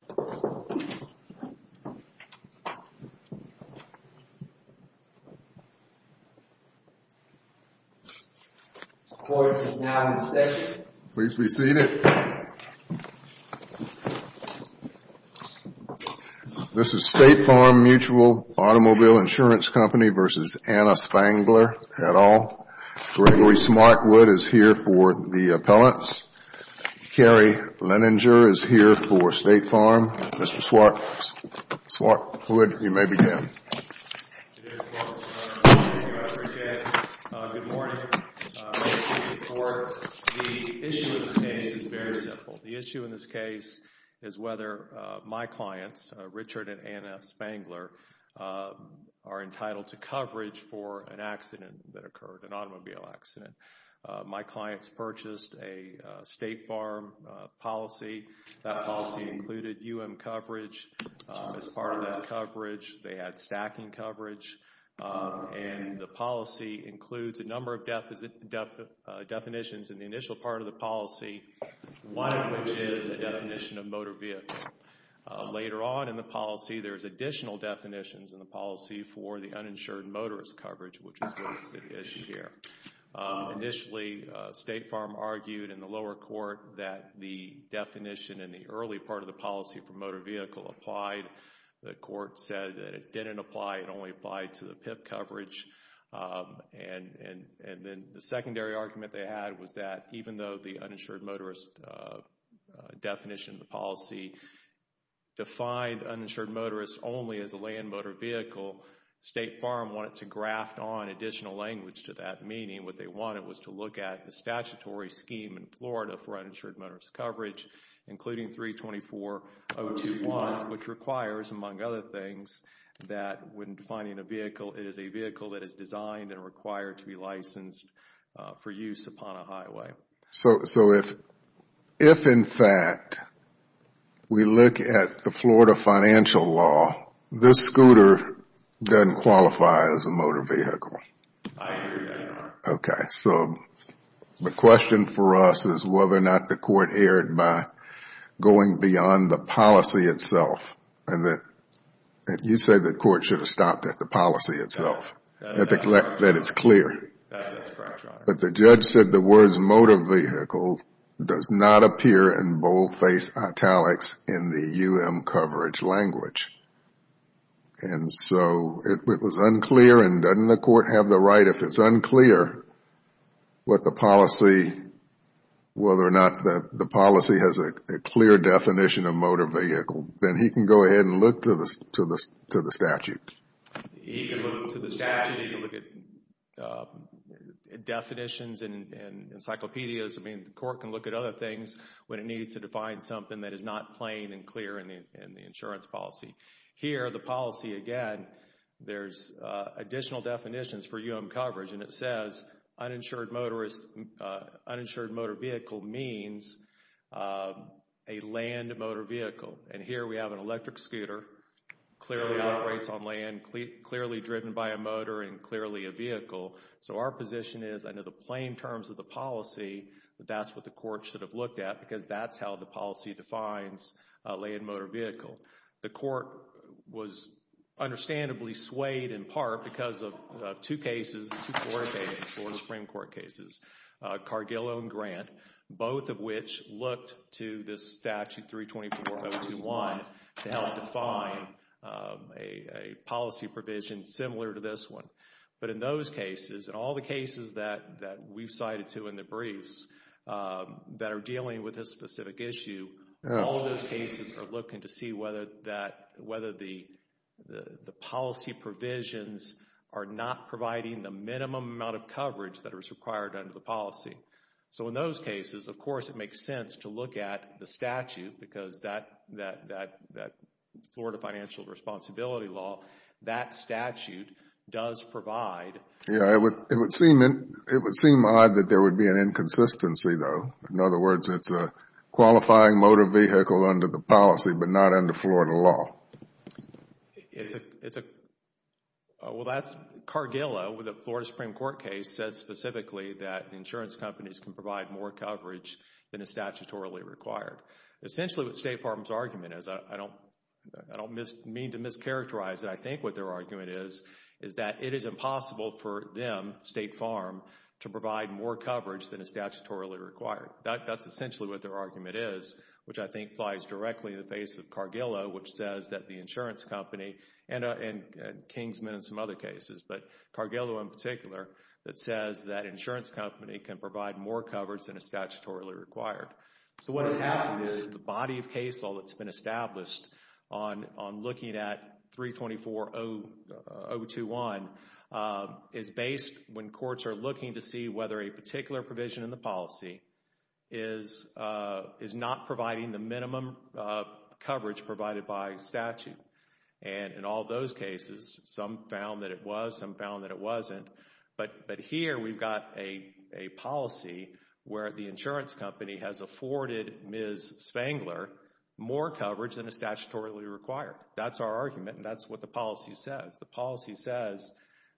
at all. Gregory Smartwood is here for the appellants. Carrie Leninger is here for State Farm. Mr. Smartwood, you may begin. Good morning. The issue in this case is very simple. The issue in this case is whether my clients, Richard and Anna Spangler, are entitled to coverage for an accident that they had UM coverage as part of that coverage. They had stacking coverage. And the policy includes a number of definitions in the initial part of the policy, one of which is a definition of motor vehicle. Later on in the policy, there's additional definitions in the policy for the uninsured motorist coverage, which is what is at issue here. Initially, State Farm argued in the lower court that the definition in the early part of the policy for motor vehicle applied. The court said that it didn't apply. It only applied to the PIP coverage. And then the secondary argument they had was that even though the uninsured motorist definition of the policy defined uninsured motorist only as a land motor vehicle, State Farm wanted to graft on additional language to that, meaning what they wanted was to look at the statutory scheme in Florida for uninsured motorist coverage, including 324.021, which requires, among other things, that when defining a vehicle, it is a vehicle that is designed and required to be licensed for use upon a highway. So if, in fact, we look at the Florida financial law, this scooter doesn't qualify as a motor vehicle? I hear you, Your Honor. Okay. So the question for us is whether or not the court erred by going beyond the policy itself and that you say the court should have stopped at the policy itself, that it's clear. That's correct, Your Honor. But the judge said the words motor vehicle does not appear in boldface italics in the UM coverage language. And so it was unclear and doesn't the court have the right, if it's unclear what the policy, whether or not the policy has a clear definition of motor vehicle, then he can go ahead and look to the statute. He can look to the statute. He can look at definitions and encyclopedias. I mean, the court can look at other things when it needs to define something that is not plain and clear in the insurance policy. Here the policy, again, there's additional definitions for UM coverage and it says uninsured motorist, uninsured motor vehicle means a land motor vehicle. And here we have an electric scooter, clearly operates on land, clearly driven by a motor and clearly a vehicle. So our position is under the plain terms of the policy that that's what the court should have looked at because that's how the policy defines a land motor vehicle. The court was understandably swayed in part because of two cases, four cases, four Supreme Courts. We want to help define a policy provision similar to this one. But in those cases, in all the cases that we've cited to in the briefs that are dealing with this specific issue, all of those cases are looking to see whether the policy provisions are not providing the minimum amount of coverage that is required under the policy. So in those cases, of course, it makes sense to look at the statute because that Florida financial responsibility law, that statute does provide. Yeah, it would seem odd that there would be an inconsistency though. In other words, it's a qualifying motor vehicle under the policy but not under Florida law. It's a, well that's Cargillo with a Florida Supreme Court case says specifically that insurance companies can provide more coverage than is statutorily required. Essentially what State Farm's argument is, I don't mean to mischaracterize it, I think what their argument is, is that it is impossible for them, State Farm, to provide more coverage than is statutorily required. That's essentially what their argument is, which I think lies directly in the face of the insurance company and Kingsman and some other cases, but Cargillo in particular that says that insurance company can provide more coverage than is statutorily required. So what has happened is the body of case law that's been established on looking at 324.021 is based when courts are looking to see whether a particular provision in the policy is not providing the minimum coverage provided by statute. And in all those cases, some found that it was, some found that it wasn't, but here we've got a policy where the insurance company has afforded Ms. Spangler more coverage than is statutorily required. That's our argument and that's what the policy says. The policy says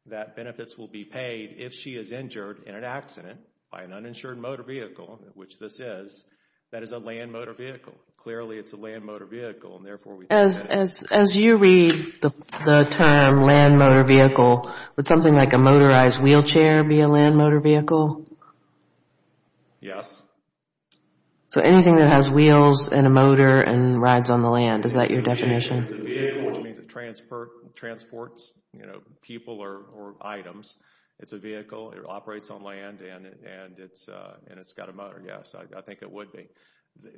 that benefits will be paid if she is injured in an accident by an uninsured motor vehicle, which this is, that is a land motor vehicle. Clearly it's a land motor vehicle and therefore we can't get it. As you read the term land motor vehicle, would something like a motorized wheelchair be a land motor vehicle? Yes. So anything that has wheels and a motor and rides on the land, is that your definition? It's a vehicle, which means it transports people or items. It's a vehicle, it operates on land and it's got a motor, yes, I think it would be.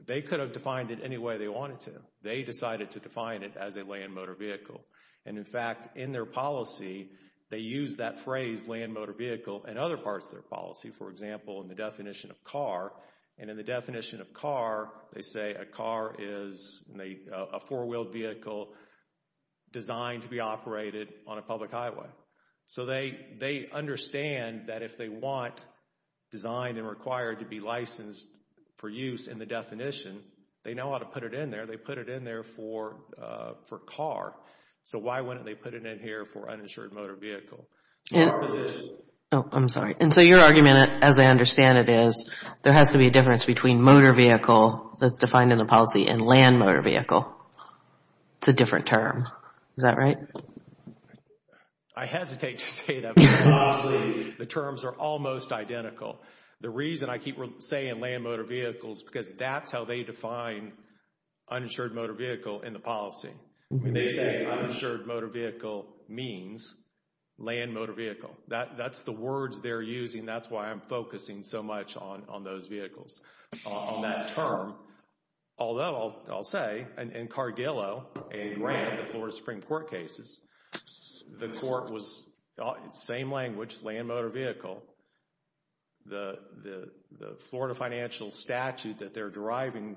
They could have defined it any way they wanted to. They decided to define it as a land motor vehicle. And in fact, in their policy, they use that phrase, land motor vehicle, in other parts of their policy. For example, in the definition of car, and in the definition of car, they say a car is a four-wheeled vehicle designed to be operated on a public highway. So they understand that if they want, designed and required to be licensed for use in the definition, they know how to put it in there. They put it in there for car. So why wouldn't they put it in here for uninsured motor vehicle? In our position. Oh, I'm sorry. And so your argument, as I understand it, is there has to be a difference between motor vehicle that's defined in the policy and land motor vehicle. It's a different term. Is that right? I hesitate to say that. The terms are almost identical. The reason I keep saying land motor vehicles, because that's how they define uninsured motor vehicle in the policy. When they say uninsured motor vehicle means land motor vehicle. That's the words they're using. That's why I'm focusing so much on those vehicles, on that term. Although, I'll say, in Cargillo, a grant, the Florida Supreme Court cases, the court was, same language, land motor vehicle. The Florida financial statute that they're deriving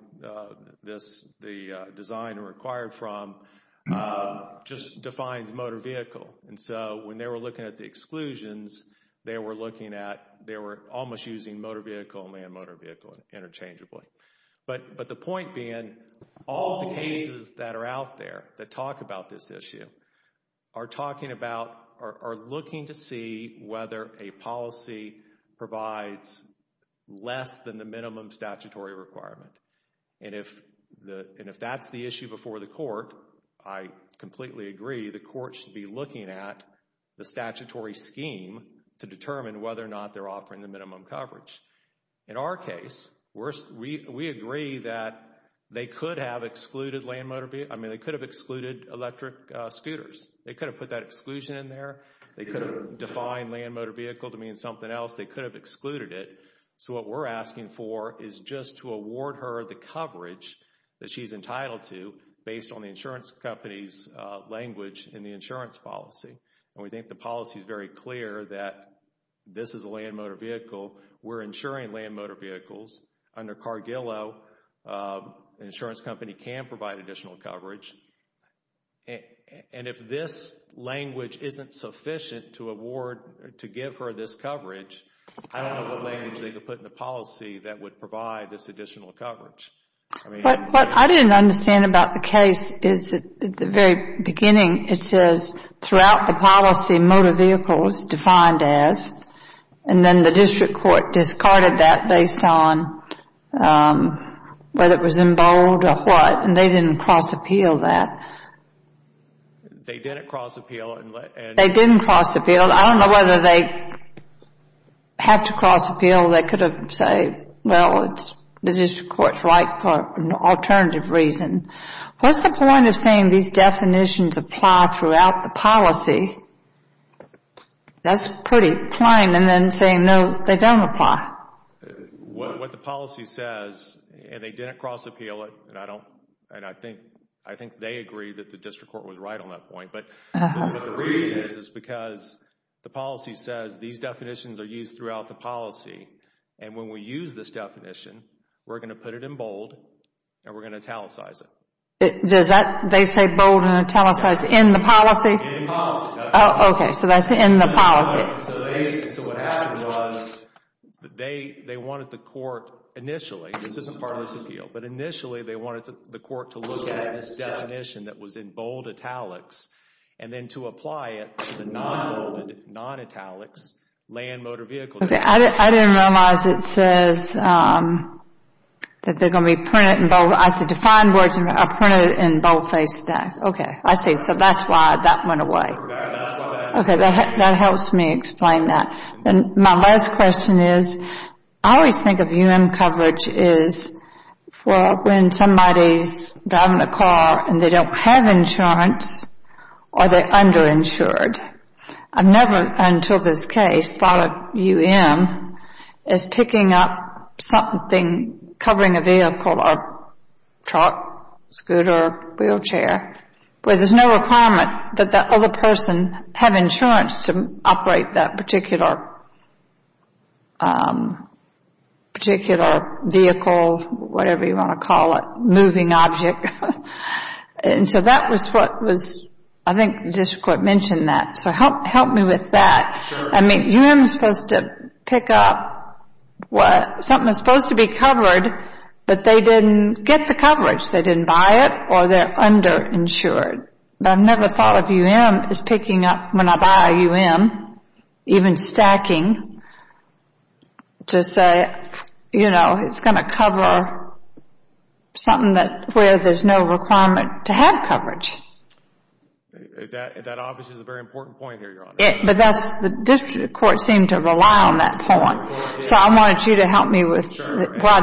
this, the design and required from, just defines motor vehicle. And so when they were looking at the exclusions, they were looking at, they were almost using motor vehicle and land motor vehicle interchangeably. But the point being, all the cases that are out there that talk about this issue, are talking about, are looking to see whether a policy provides less than the minimum statutory requirement. And if that's the issue before the court, I completely agree, the court should be looking at the statutory scheme to determine whether or not they're offering the minimum coverage. In our case, we agree that they could have excluded land motor vehicle, I mean they could have excluded electric scooters. They could have put that exclusion in there. They could have defined land motor vehicle to mean something else. They could have excluded it. So what we're asking for is just to award her the coverage that she's entitled to, based on the insurance company's language in the insurance policy. And we think the policy is very clear that this is a land motor vehicle. We're insuring land motor vehicles. Under Cargillo, an insurance company can provide additional coverage. And if this language isn't sufficient to award, to give her this coverage, I don't know what language they could put in the policy that would provide this additional coverage. What I didn't understand about the case is that at the very beginning, it says throughout the policy, motor vehicle was defined as, and then the district court discarded that based on whether it was in bold or what, and they didn't cross appeal that. They didn't cross appeal. They didn't cross appeal. I don't know whether they have to cross appeal. They could have said, well, it's the district court's right for an alternative reason. What's the point of saying these definitions apply throughout the policy? That's pretty plain, and then saying, no, they don't apply. What the policy says, and they didn't cross appeal it, and I think they agree that the district court was right on that point, but the reason is because the policy says these And when we use this definition, we're going to put it in bold and we're going to italicize it. Does that, they say bold and italicize in the policy? In the policy. Oh, okay. So that's in the policy. So what happened was, they wanted the court initially, this isn't part of this appeal, but initially they wanted the court to look at this definition that was in bold italics and then to apply it to the non-bold, non-italics land motor vehicle definition. I didn't realize it says that they're going to be printed in bold. I said defined words are printed in boldface, okay, I see. So that's why that went away. Okay, that helps me explain that. My last question is, I always think of UM coverage is for when somebody's driving a car and they don't have insurance or they're underinsured. I've never until this case thought of UM as picking up something, covering a vehicle or truck, scooter, wheelchair, where there's no requirement that the other person have insurance to operate that particular vehicle, whatever you want to call it, moving object. And so that was what was, I think the district court mentioned that. So help me with that. I mean, UM is supposed to pick up something that's supposed to be covered, but they didn't get the coverage. They didn't buy it or they're underinsured. I've never thought of UM as picking up when I buy a UM, even stacking, to say, you know, it's going to cover something where there's no requirement to have coverage. That obviously is a very important point here, Your Honor. But that's, the district court seemed to rely on that point. So I wanted you to help me with why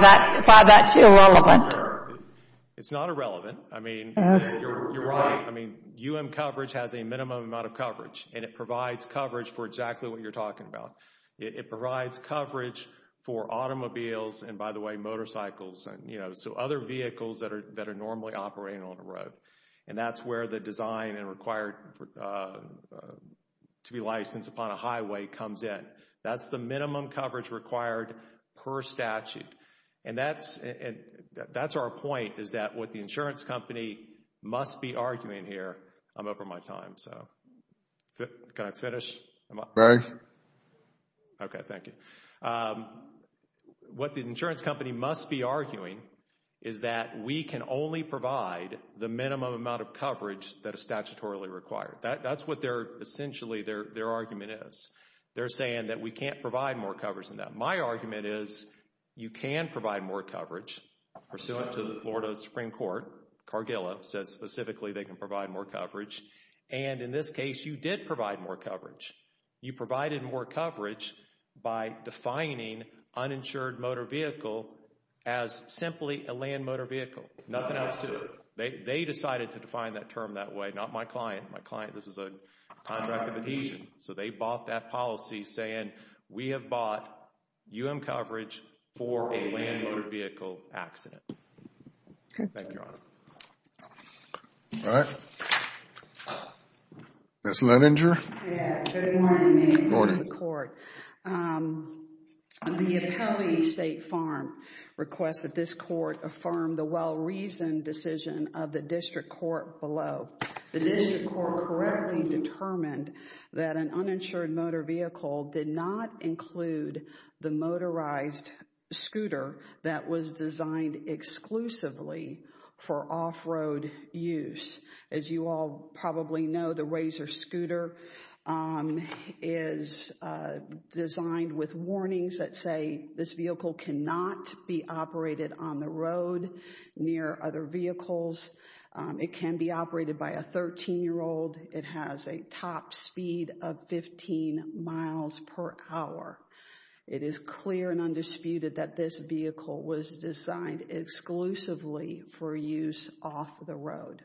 that's irrelevant. It's not irrelevant. I mean, you're right, UM coverage has a minimum amount of coverage and it provides coverage for exactly what you're talking about. It provides coverage for automobiles and, by the way, motorcycles and, you know, so other vehicles that are normally operating on the road. And that's where the design and required to be licensed upon a highway comes in. That's the minimum coverage required per statute. And that's our point, is that what the insurance company must be arguing here. I'm over my time, so can I finish? Go ahead. Okay, thank you. What the insurance company must be arguing is that we can only provide the minimum amount of coverage that is statutorily required. That's what they're, essentially, their argument is. They're saying that we can't provide more coverage than that. My argument is, you can provide more coverage, pursuant to the Florida Supreme Court, Cargillo says specifically they can provide more coverage. And in this case, you did provide more coverage. You provided more coverage by defining uninsured motor vehicle as simply a land motor vehicle. Nothing else to it. They decided to define that term that way. Not my client. My client, this is a contract of adhesion. So they bought that policy saying we have bought UM coverage for a land motor vehicle accident. Okay. Thank you, Your Honor. All right. Ms. Leninger. Good morning, ma'am. Good morning. Good morning to the court. The appellee, State Farm, requests that this court affirm the well-reasoned decision of the district court below. The district court correctly determined that an uninsured motor vehicle did not include the motorized scooter that was designed exclusively for off-road use. As you all probably know, the Razor scooter is designed with warnings that say this vehicle cannot be operated on the road near other vehicles. It can be operated by a 13-year-old. It has a top speed of 15 miles per hour. It is clear and undisputed that this vehicle was designed exclusively for use off the road.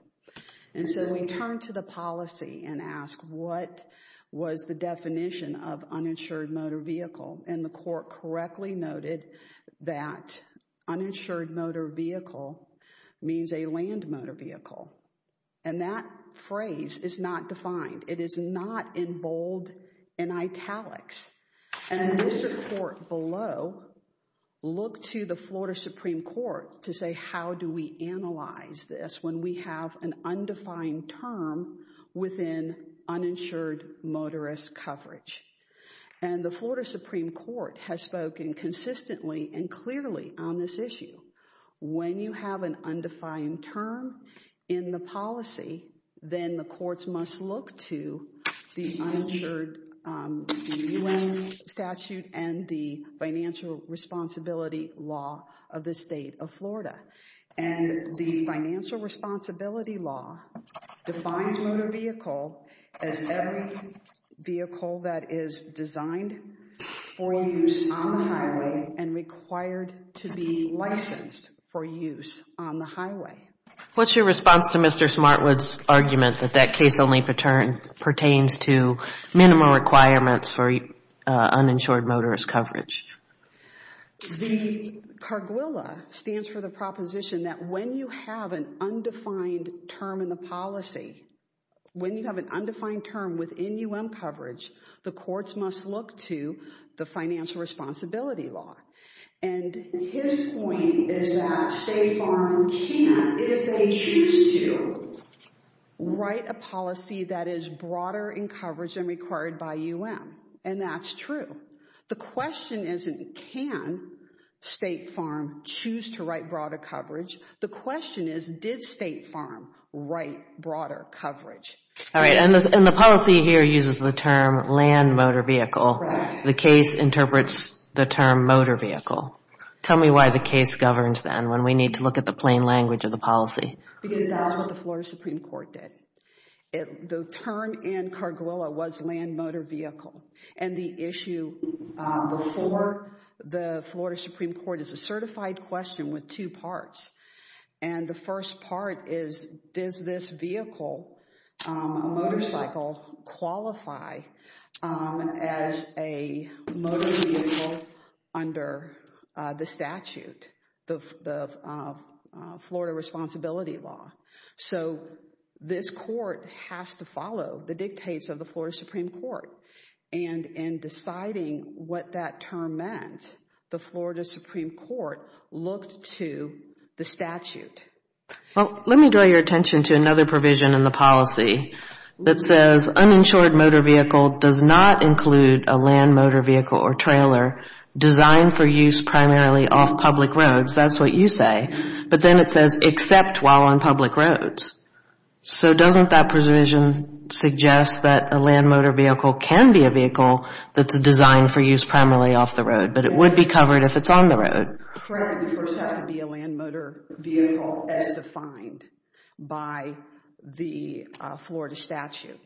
And so we turn to the policy and ask what was the definition of uninsured motor vehicle? And the court correctly noted that uninsured motor vehicle means a land motor vehicle. And that phrase is not defined. It is not in bold, in italics. And the district court below looked to the Florida Supreme Court to say how do we analyze this when we have an undefined term within uninsured motorist coverage. And the Florida Supreme Court has spoken consistently and clearly on this issue. When you have an undefined term in the policy, then the courts must look to the UN statute and the financial responsibility law of the state of Florida. And the financial responsibility law defines motor vehicle as every vehicle that is designed for use on the highway and required to be licensed for use on the highway. What's your response to Mr. Smartwood's argument that that case only pertains to minimal requirements for uninsured motorist coverage? The CARGUILA stands for the proposition that when you have an undefined term in the policy, when you have an undefined term within UN coverage, the courts must look to the financial responsibility law. And his point is that State Farm can, if they choose to, write a policy that is broader in coverage than required by UN. And that's true. The question isn't can State Farm choose to write broader coverage. The question is, did State Farm write broader coverage? All right. And the policy here uses the term land motor vehicle. The case interprets the term motor vehicle. Tell me why the case governs then when we need to look at the plain language of the policy. Because that's what the Florida Supreme Court did. The term in CARGUILA was land motor vehicle. And the issue before the Florida Supreme Court is a certified question with two parts. And the first part is, does this vehicle, a motorcycle, qualify as a motor vehicle under the statute, the Florida Responsibility Law? So this court has to follow the dictates of the Florida Supreme Court. And in deciding what that term meant, the Florida Supreme Court looked to the statute. Let me draw your attention to another provision in the policy that says uninsured motor vehicle does not include a land motor vehicle or trailer designed for use primarily off public roads. That's what you say. But then it says except while on public roads. So doesn't that provision suggest that a land motor vehicle can be a vehicle that's designed for use primarily off the road, but it would be covered if it's on the road? Correct. It would first have to be a land motor vehicle as defined by the Florida statute.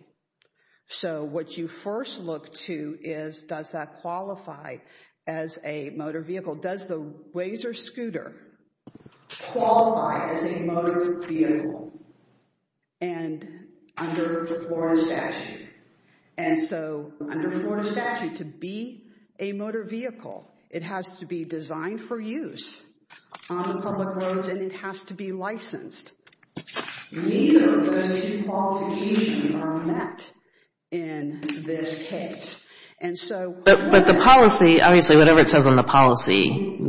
So what you first look to is, does that qualify as a motor vehicle? Does the Wazer scooter qualify as a motor vehicle under the Florida statute? And so under the Florida statute, to be a motor vehicle, it has to be designed for use on public roads and it has to be licensed. Neither of those two qualifications are met in this case. But the policy, obviously, whatever it says on the policy,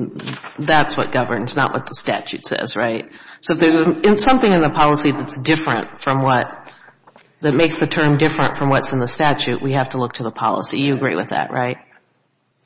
that's what governs, not what the statute says, right? So if there's something in the policy that's different from what, that makes the term different from what's in the statute, we have to look to the policy. You agree with that, right?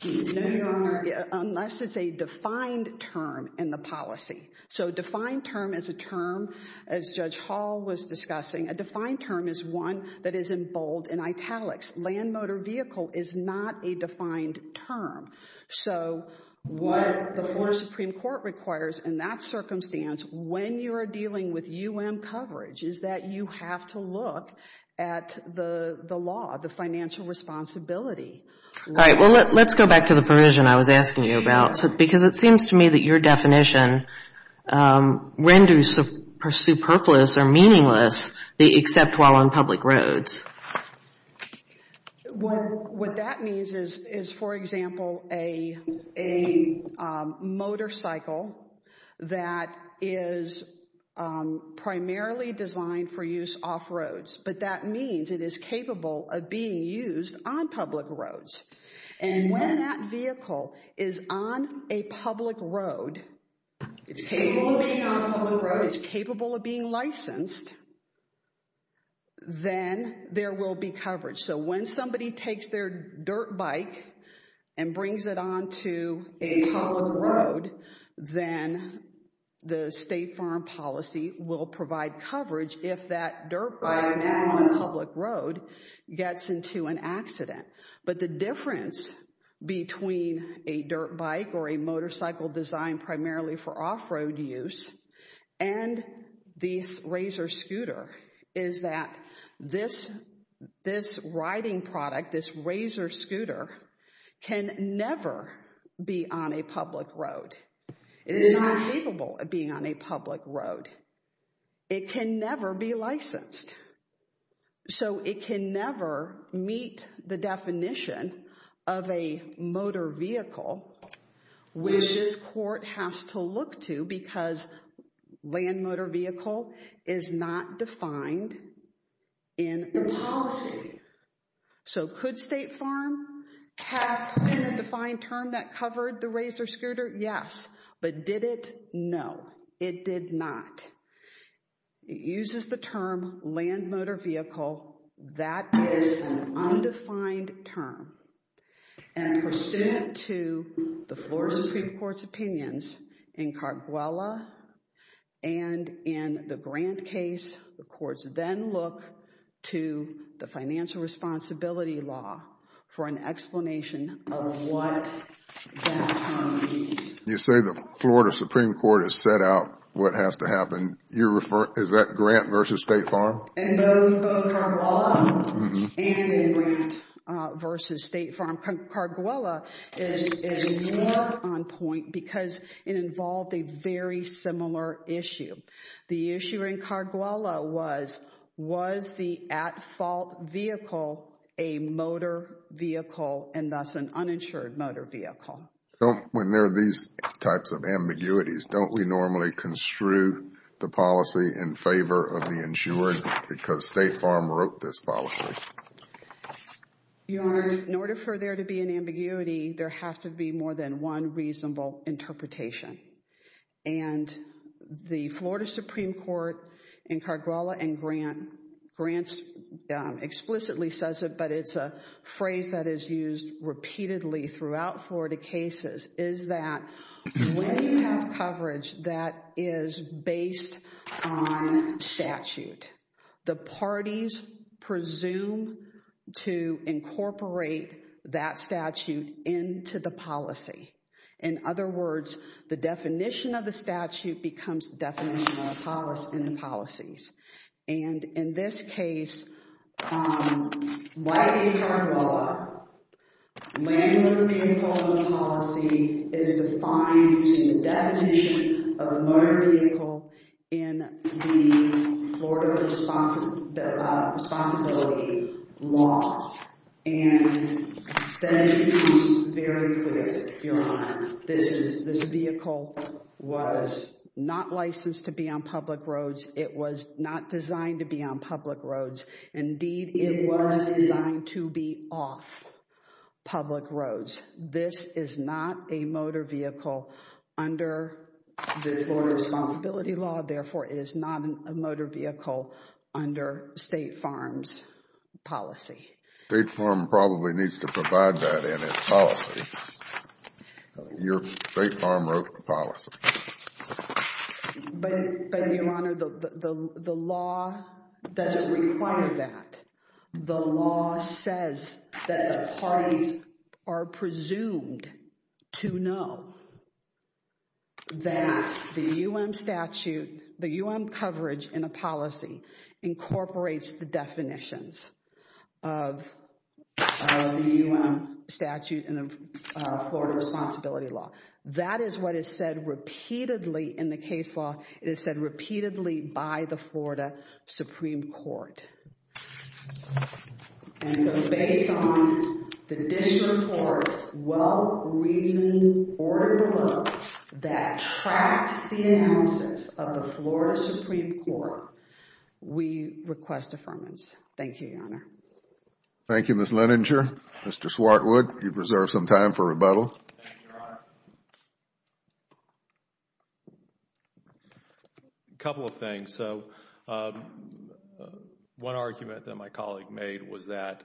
No, Your Honor, unless it's a defined term in the policy. So a defined term is a term, as Judge Hall was discussing, a defined term is one that is in bold and italics. Land motor vehicle is not a defined term. So what the Florida Supreme Court requires in that circumstance when you are dealing with U.M. coverage is that you have to look at the law, the financial responsibility. All right. Well, let's go back to the provision I was asking you about because it seems to me that your definition renders superfluous or meaningless the except while on public roads. What that means is, for example, a motorcycle that is primarily designed for use off roads, but that means it is capable of being used on public roads. And when that vehicle is on a public road, it's capable of being licensed, then there will be coverage. So when somebody takes their dirt bike and brings it onto a public road, then the state foreign policy will provide coverage if that dirt bike on a public road gets into an accident. But the difference between a dirt bike or a motorcycle designed primarily for off road use and the Razor scooter is that this riding product, this Razor scooter can never be on a public road. It is not capable of being on a public road. It can never be licensed. So it can never meet the definition of a motor vehicle, which this court has to look to because land motor vehicle is not defined in the policy. So could State Farm have in a defined term that covered the Razor scooter? Yes. But did it? No, it did not. It uses the term land motor vehicle. That is an undefined term. And pursuant to the Florida Supreme Court's opinions in Cartaguela and in the Grant case, the courts then look to the financial responsibility law for an explanation of what that term means. You say the Florida Supreme Court has set out what has to happen. Is that Grant v. State Farm? Both Cartaguela and Grant v. State Farm. Cartaguela is more on point because it involved a very similar issue. The issue in Cartaguela was, was the at-fault vehicle a motor vehicle and thus an uninsured motor vehicle? Don't, when there are these types of ambiguities, don't we normally construe the policy in favor of the insured because State Farm wrote this policy? Your Honor, in order for there to be an ambiguity, there has to be more than one reasonable interpretation. And the Florida Supreme Court in Cartaguela and Grant, Grant explicitly says it, but it's a phrase that is used repeatedly throughout Florida cases, is that when you have coverage that is based on statute, the parties presume to incorporate that statute into the policy. In other words, the definition of the statute becomes the definition of the policies. And in this case, like in Cartaguela, land-owner vehicle policy is defined using the definition of a motor vehicle in the Florida Responsibility Law. And then it is very clear, Your Honor, this is, this vehicle was not licensed to be on public roads. It was not designed to be on public roads. Indeed, it was designed to be off public roads. This is not a motor vehicle under the Florida Responsibility Law, therefore it is not a motor vehicle under State Farm's policy. State Farm probably needs to provide that in its policy. Your, State Farm wrote the policy. But, Your Honor, the law doesn't require that. The law says that the parties are presumed to know that the U.M. statute, the U.M. coverage in a policy incorporates the definitions of the U.M. statute in the Florida Responsibility Law. That is what is said repeatedly in the case law. It is said repeatedly by the Florida Supreme Court. And so based on the district court's well-reasoned order below that tracked the analysis of the Florida Supreme Court, we request affirmance. Thank you, Your Honor. Thank you, Ms. Leninger. Thank you, Your Honor. A couple of things. So one argument that my colleague made was that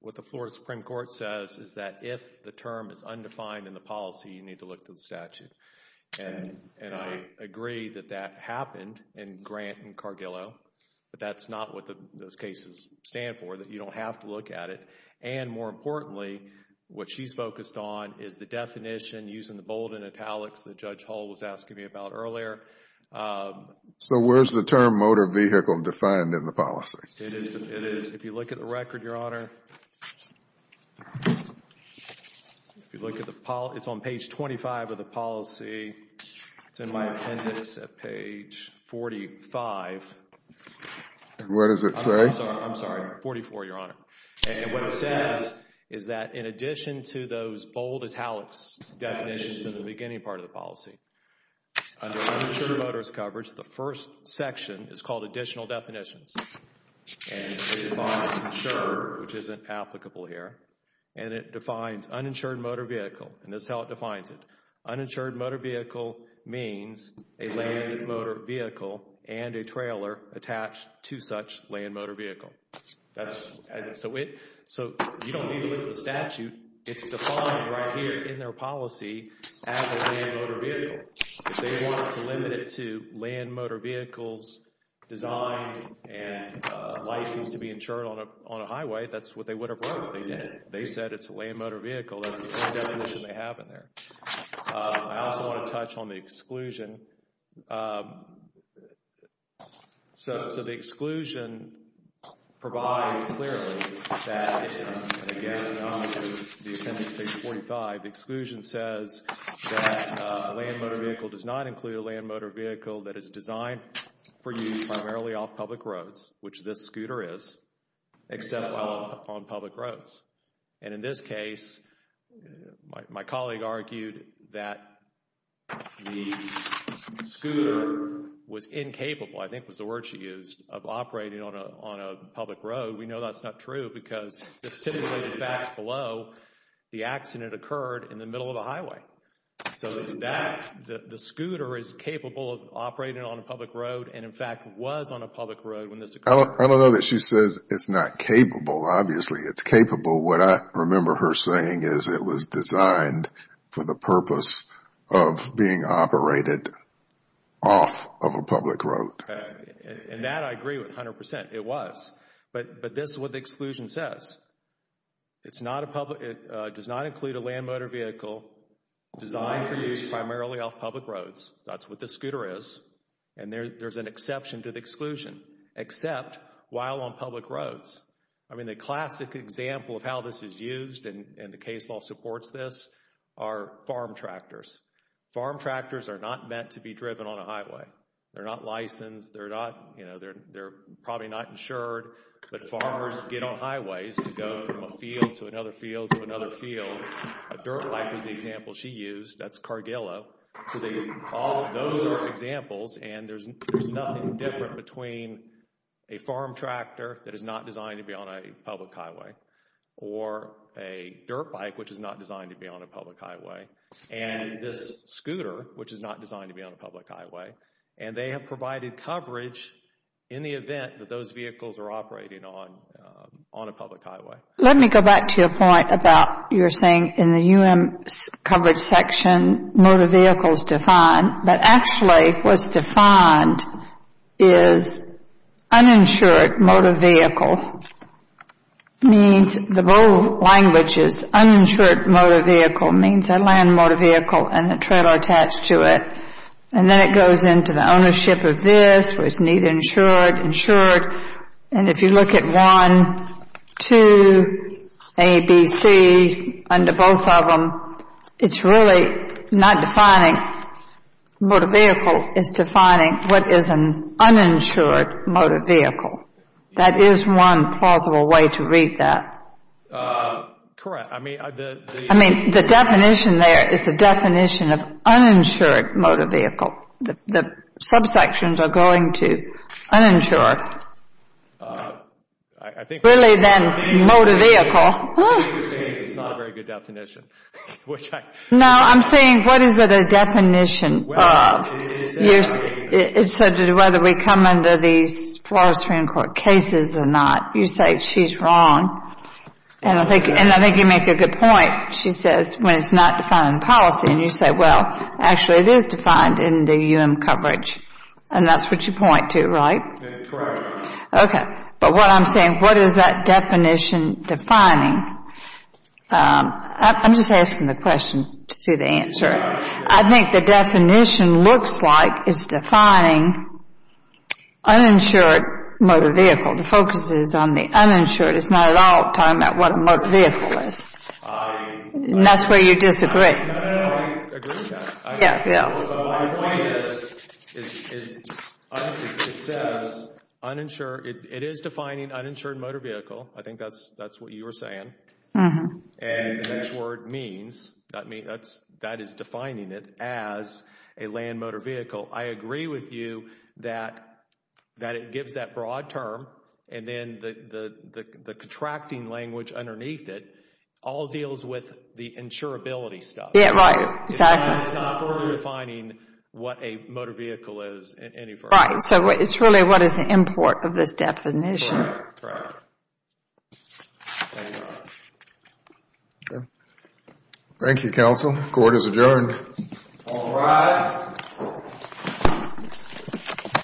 what the Florida Supreme Court says is that if the term is undefined in the policy, you need to look to the statute. And I agree that that happened in Grant and Cargillo. But that's not what those cases stand for, that you don't have to look at it. And more importantly, what she's focused on is the definition using the bold and italics that Judge Hull was asking me about earlier. So where's the term motor vehicle defined in the policy? It is. If you look at the record, Your Honor, if you look at the policy, it's on page 25 of the policy. It's in my appendix at page 45. What does it say? I'm sorry. 44, Your Honor. And what it says is that in addition to those bold italics definitions in the beginning part of the policy, under uninsured motorist coverage, the first section is called additional definitions. And it defines insured, which isn't applicable here. And it defines uninsured motor vehicle. And this is how it defines it. Uninsured motor vehicle means a land motor vehicle and a trailer attached to such land motor vehicle. That's, so you don't need to look at the statute. It's defined right here in their policy as a land motor vehicle. If they wanted to limit it to land motor vehicles designed and licensed to be insured on a highway, that's what they would have wrote. They didn't. They said it's a land motor vehicle. That's the definition they have in there. I also want to touch on the exclusion. So, so the exclusion provides clearly that, again on the appendix page 45, the exclusion says that a land motor vehicle does not include a land motor vehicle that is designed for use primarily off public roads, which this scooter is, except while on public roads. And in this case, my colleague argued that the scooter was incapable, I think was the word she used, of operating on a, on a public road. We know that's not true because this typically the facts below, the accident occurred in the middle of a highway. So that, the scooter is capable of operating on a public road and in fact was on a public road when this occurred. I don't know that she says it's not capable. Obviously it's capable. What I remember her saying is it was designed for the purpose of being operated off of a public road. And that I agree with 100%. It was. But, but this is what the exclusion says. It's not a public, it does not include a land motor vehicle designed for use primarily off public roads. That's what this scooter is. And there, there's an exception to the exclusion, except while on public roads. I mean the classic example of how this is used, and the case law supports this, are farm tractors. Farm tractors are not meant to be driven on a highway. They're not licensed. They're not, you know, they're, they're probably not insured. But farmers get on highways to go from a field to another field to another field. A dirt bike was the example she used. That's Cargillo. So they, all, those are examples and there's, there's nothing different between a farm tractor, which is not designed to be on a public highway, or a dirt bike, which is not designed to be on a public highway, and this scooter, which is not designed to be on a public highway. And they have provided coverage in the event that those vehicles are operating on, on a public highway. Let me go back to your point about, you're saying in the U.M. coverage section, motor vehicles defined. But actually what's defined is uninsured motor vehicle, means, the bold language is uninsured motor vehicle, means a land motor vehicle and the trailer attached to it. And then it goes into the ownership of this, where it's neither insured, insured, and if you look at 1, 2, A, B, C, under both of them, it's really not defining motor vehicle, it's defining what is an uninsured motor vehicle. That is one plausible way to read that. Correct. I mean, the definition there is the definition of uninsured motor vehicle. The subsections are going to uninsure really then motor vehicle. I think what you're saying is it's not a very good definition. No, I'm saying what is it a definition of? Well, it's whether we come under these Florida Supreme Court cases or not. You say she's wrong. And I think you make a good point. She says when it's not defined in policy. And you say, well, actually, it is defined in the UM coverage. And that's what you point to, right? Okay. But what I'm saying, what is that definition defining? I'm just asking the question to see the answer. I think the definition looks like it's defining uninsured motor vehicle. The focus is on the uninsured. It's not at all talking about what a motor vehicle is. And that's where you disagree. Yeah, yeah. So my point is, it says uninsured, it is defining uninsured motor vehicle. I think that's what you were saying. And the next word means, that is defining it as a land motor vehicle. I agree with you that it gives that broad term. And then the contracting language underneath it all deals with the insurability stuff. Yeah, right. Exactly. It's not fully defining what a motor vehicle is in any form. Right. So it's really what is the import of this definition. Right, right. Thank you, counsel. Court is adjourned. All rise.